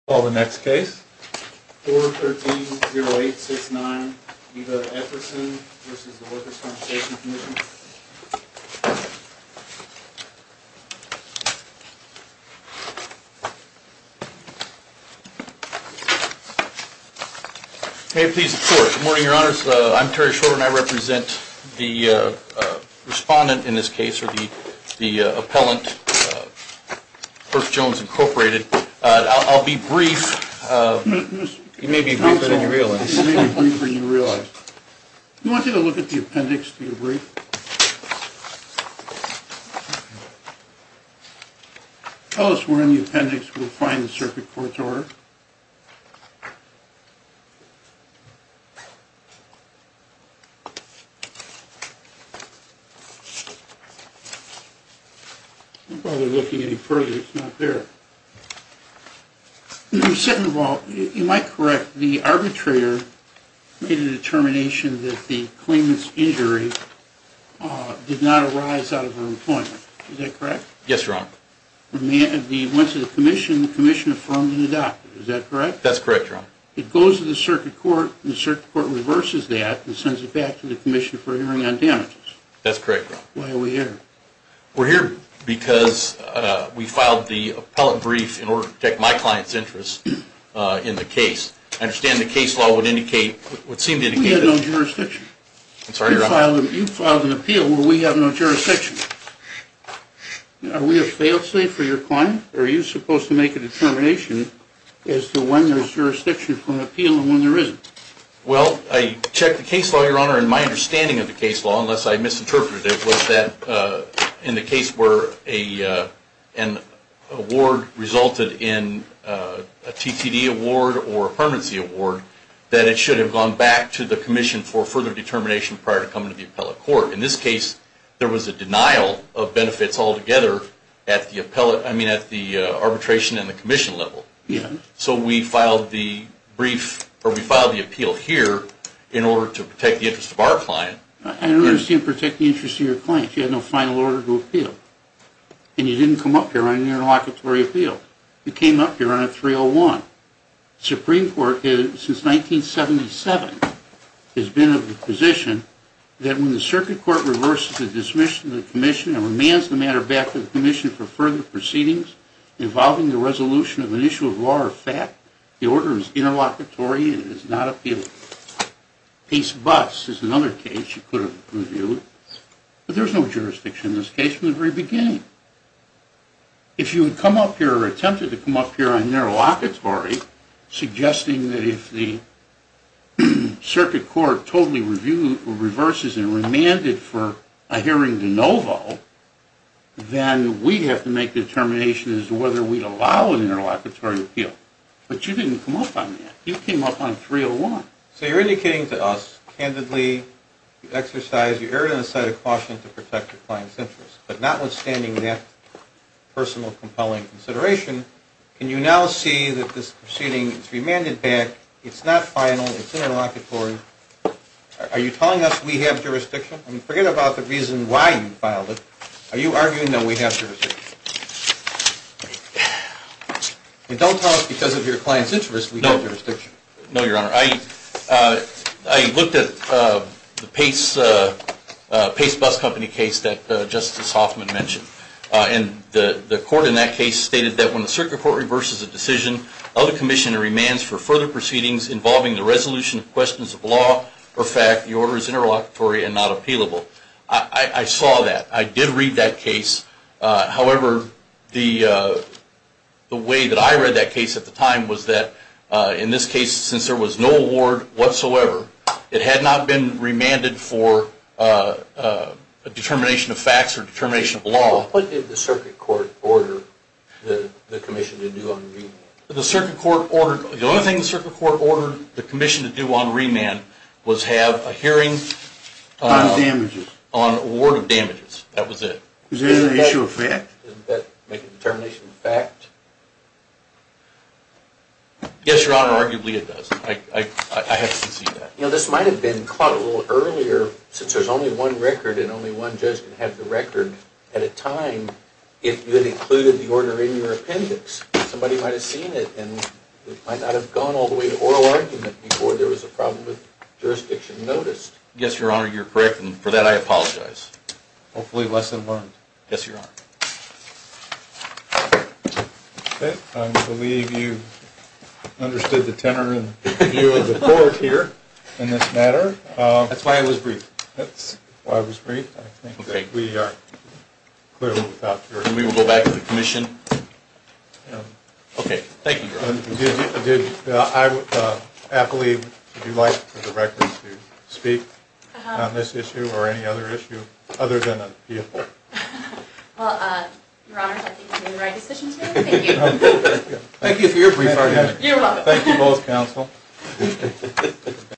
Call the next case. 413-0869, Eva Epperson v. Workers' Compensation Commission. May it please the Court. Good morning, Your Honors. I'm Terry Shorter, and I represent the respondent in this case, or the appellant, Berk Jones, Incorporated. I'll be brief. You may be briefer than you realize. You may be briefer than you realize. Do you want me to look at the appendix to your brief? Tell us where in the appendix we'll find the circuit court's order. I don't bother looking any further. It's not there. Second of all, you might correct, the arbitrator made a determination that the claimant's injury did not arise out of her employment. Is that correct? Yes, Your Honor. Once it's in the commission, the commission affirms and adopts it. Is that correct? That's correct, Your Honor. It goes to the circuit court, and the circuit court reverses that and sends it back to the commission for hearing on damages. That's correct, Your Honor. Why are we here? We're here because we filed the appellant brief in order to protect my client's interests in the case. I understand the case law would seem to indicate that. We have no jurisdiction. I'm sorry, Your Honor. You filed an appeal where we have no jurisdiction. Are we a failed state for your client, or are you supposed to make a determination as to when there's jurisdiction for an appeal and when there isn't? Well, I checked the case law, Your Honor, and my understanding of the case law, unless I misinterpreted it, was that in the case where an award resulted in a TTD award or a permanency award, that it should have gone back to the commission for further determination prior to coming to the appellate court. In this case, there was a denial of benefits altogether at the arbitration and the commission level. Yes. So we filed the appeal here in order to protect the interest of our client. I don't understand protect the interest of your client. You had no final order to appeal, and you didn't come up here on an interlocutory appeal. You came up here on a 301. The Supreme Court, since 1977, has been of the position that when the circuit court reverses the dismissal of the commission and remands the matter back to the commission for further proceedings involving the resolution of an issue of law or fact, the order is interlocutory and it is not appealable. Case bus is another case you could have reviewed, but there's no jurisdiction in this case from the very beginning. If you had attempted to come up here on interlocutory, suggesting that if the circuit court totally reverses and remanded for a hearing de novo, then we'd have to make determinations as to whether we'd allow an interlocutory appeal. But you didn't come up on that. You came up on 301. So you're indicating to us, candidly, you exercised, you erred on the side of caution to protect your client's interest. But notwithstanding that personal compelling consideration, can you now see that this proceeding is remanded back? It's not final. It's interlocutory. Are you telling us we have jurisdiction? I mean, forget about the reason why you filed it. Are you arguing that we have jurisdiction? If you don't tell us because of your client's interest, we have jurisdiction. No, Your Honor. I looked at the Pace Bus Company case that Justice Hoffman mentioned. And the court in that case stated that when the circuit court reverses a decision, other commissioner remands for further proceedings involving the resolution of questions of law or fact, the order is interlocutory and not appealable. I did read that case. However, the way that I read that case at the time was that in this case, since there was no award whatsoever, it had not been remanded for a determination of facts or determination of law. What did the circuit court order the commission to do on remand? The only thing the circuit court ordered the commission to do on remand was have a hearing on award of damages. That was it. Is there an issue of fact? Doesn't that make a determination of fact? Yes, Your Honor. Arguably, it does. I have seen that. You know, this might have been caught a little earlier. Since there's only one record and only one judge can have the record at a time, if you had included the order in your appendix, somebody might have seen it and it might not have gone all the way to oral argument before there was a problem with jurisdiction noticed. Yes, Your Honor. You're correct. And for that, I apologize. Hopefully less than learned. Yes, Your Honor. I believe you understood the tenor and view of the court here in this matter. That's why it was brief. That's why it was brief. I think that we are clearly without jurisdiction. Okay. Thank you, Your Honor. Apolli, would you like for the record to speak on this issue or any other issue other than a PFA? Well, Your Honor, I think you made the right decisions here. Thank you. Thank you for your brief argument. Thank you both, counsel.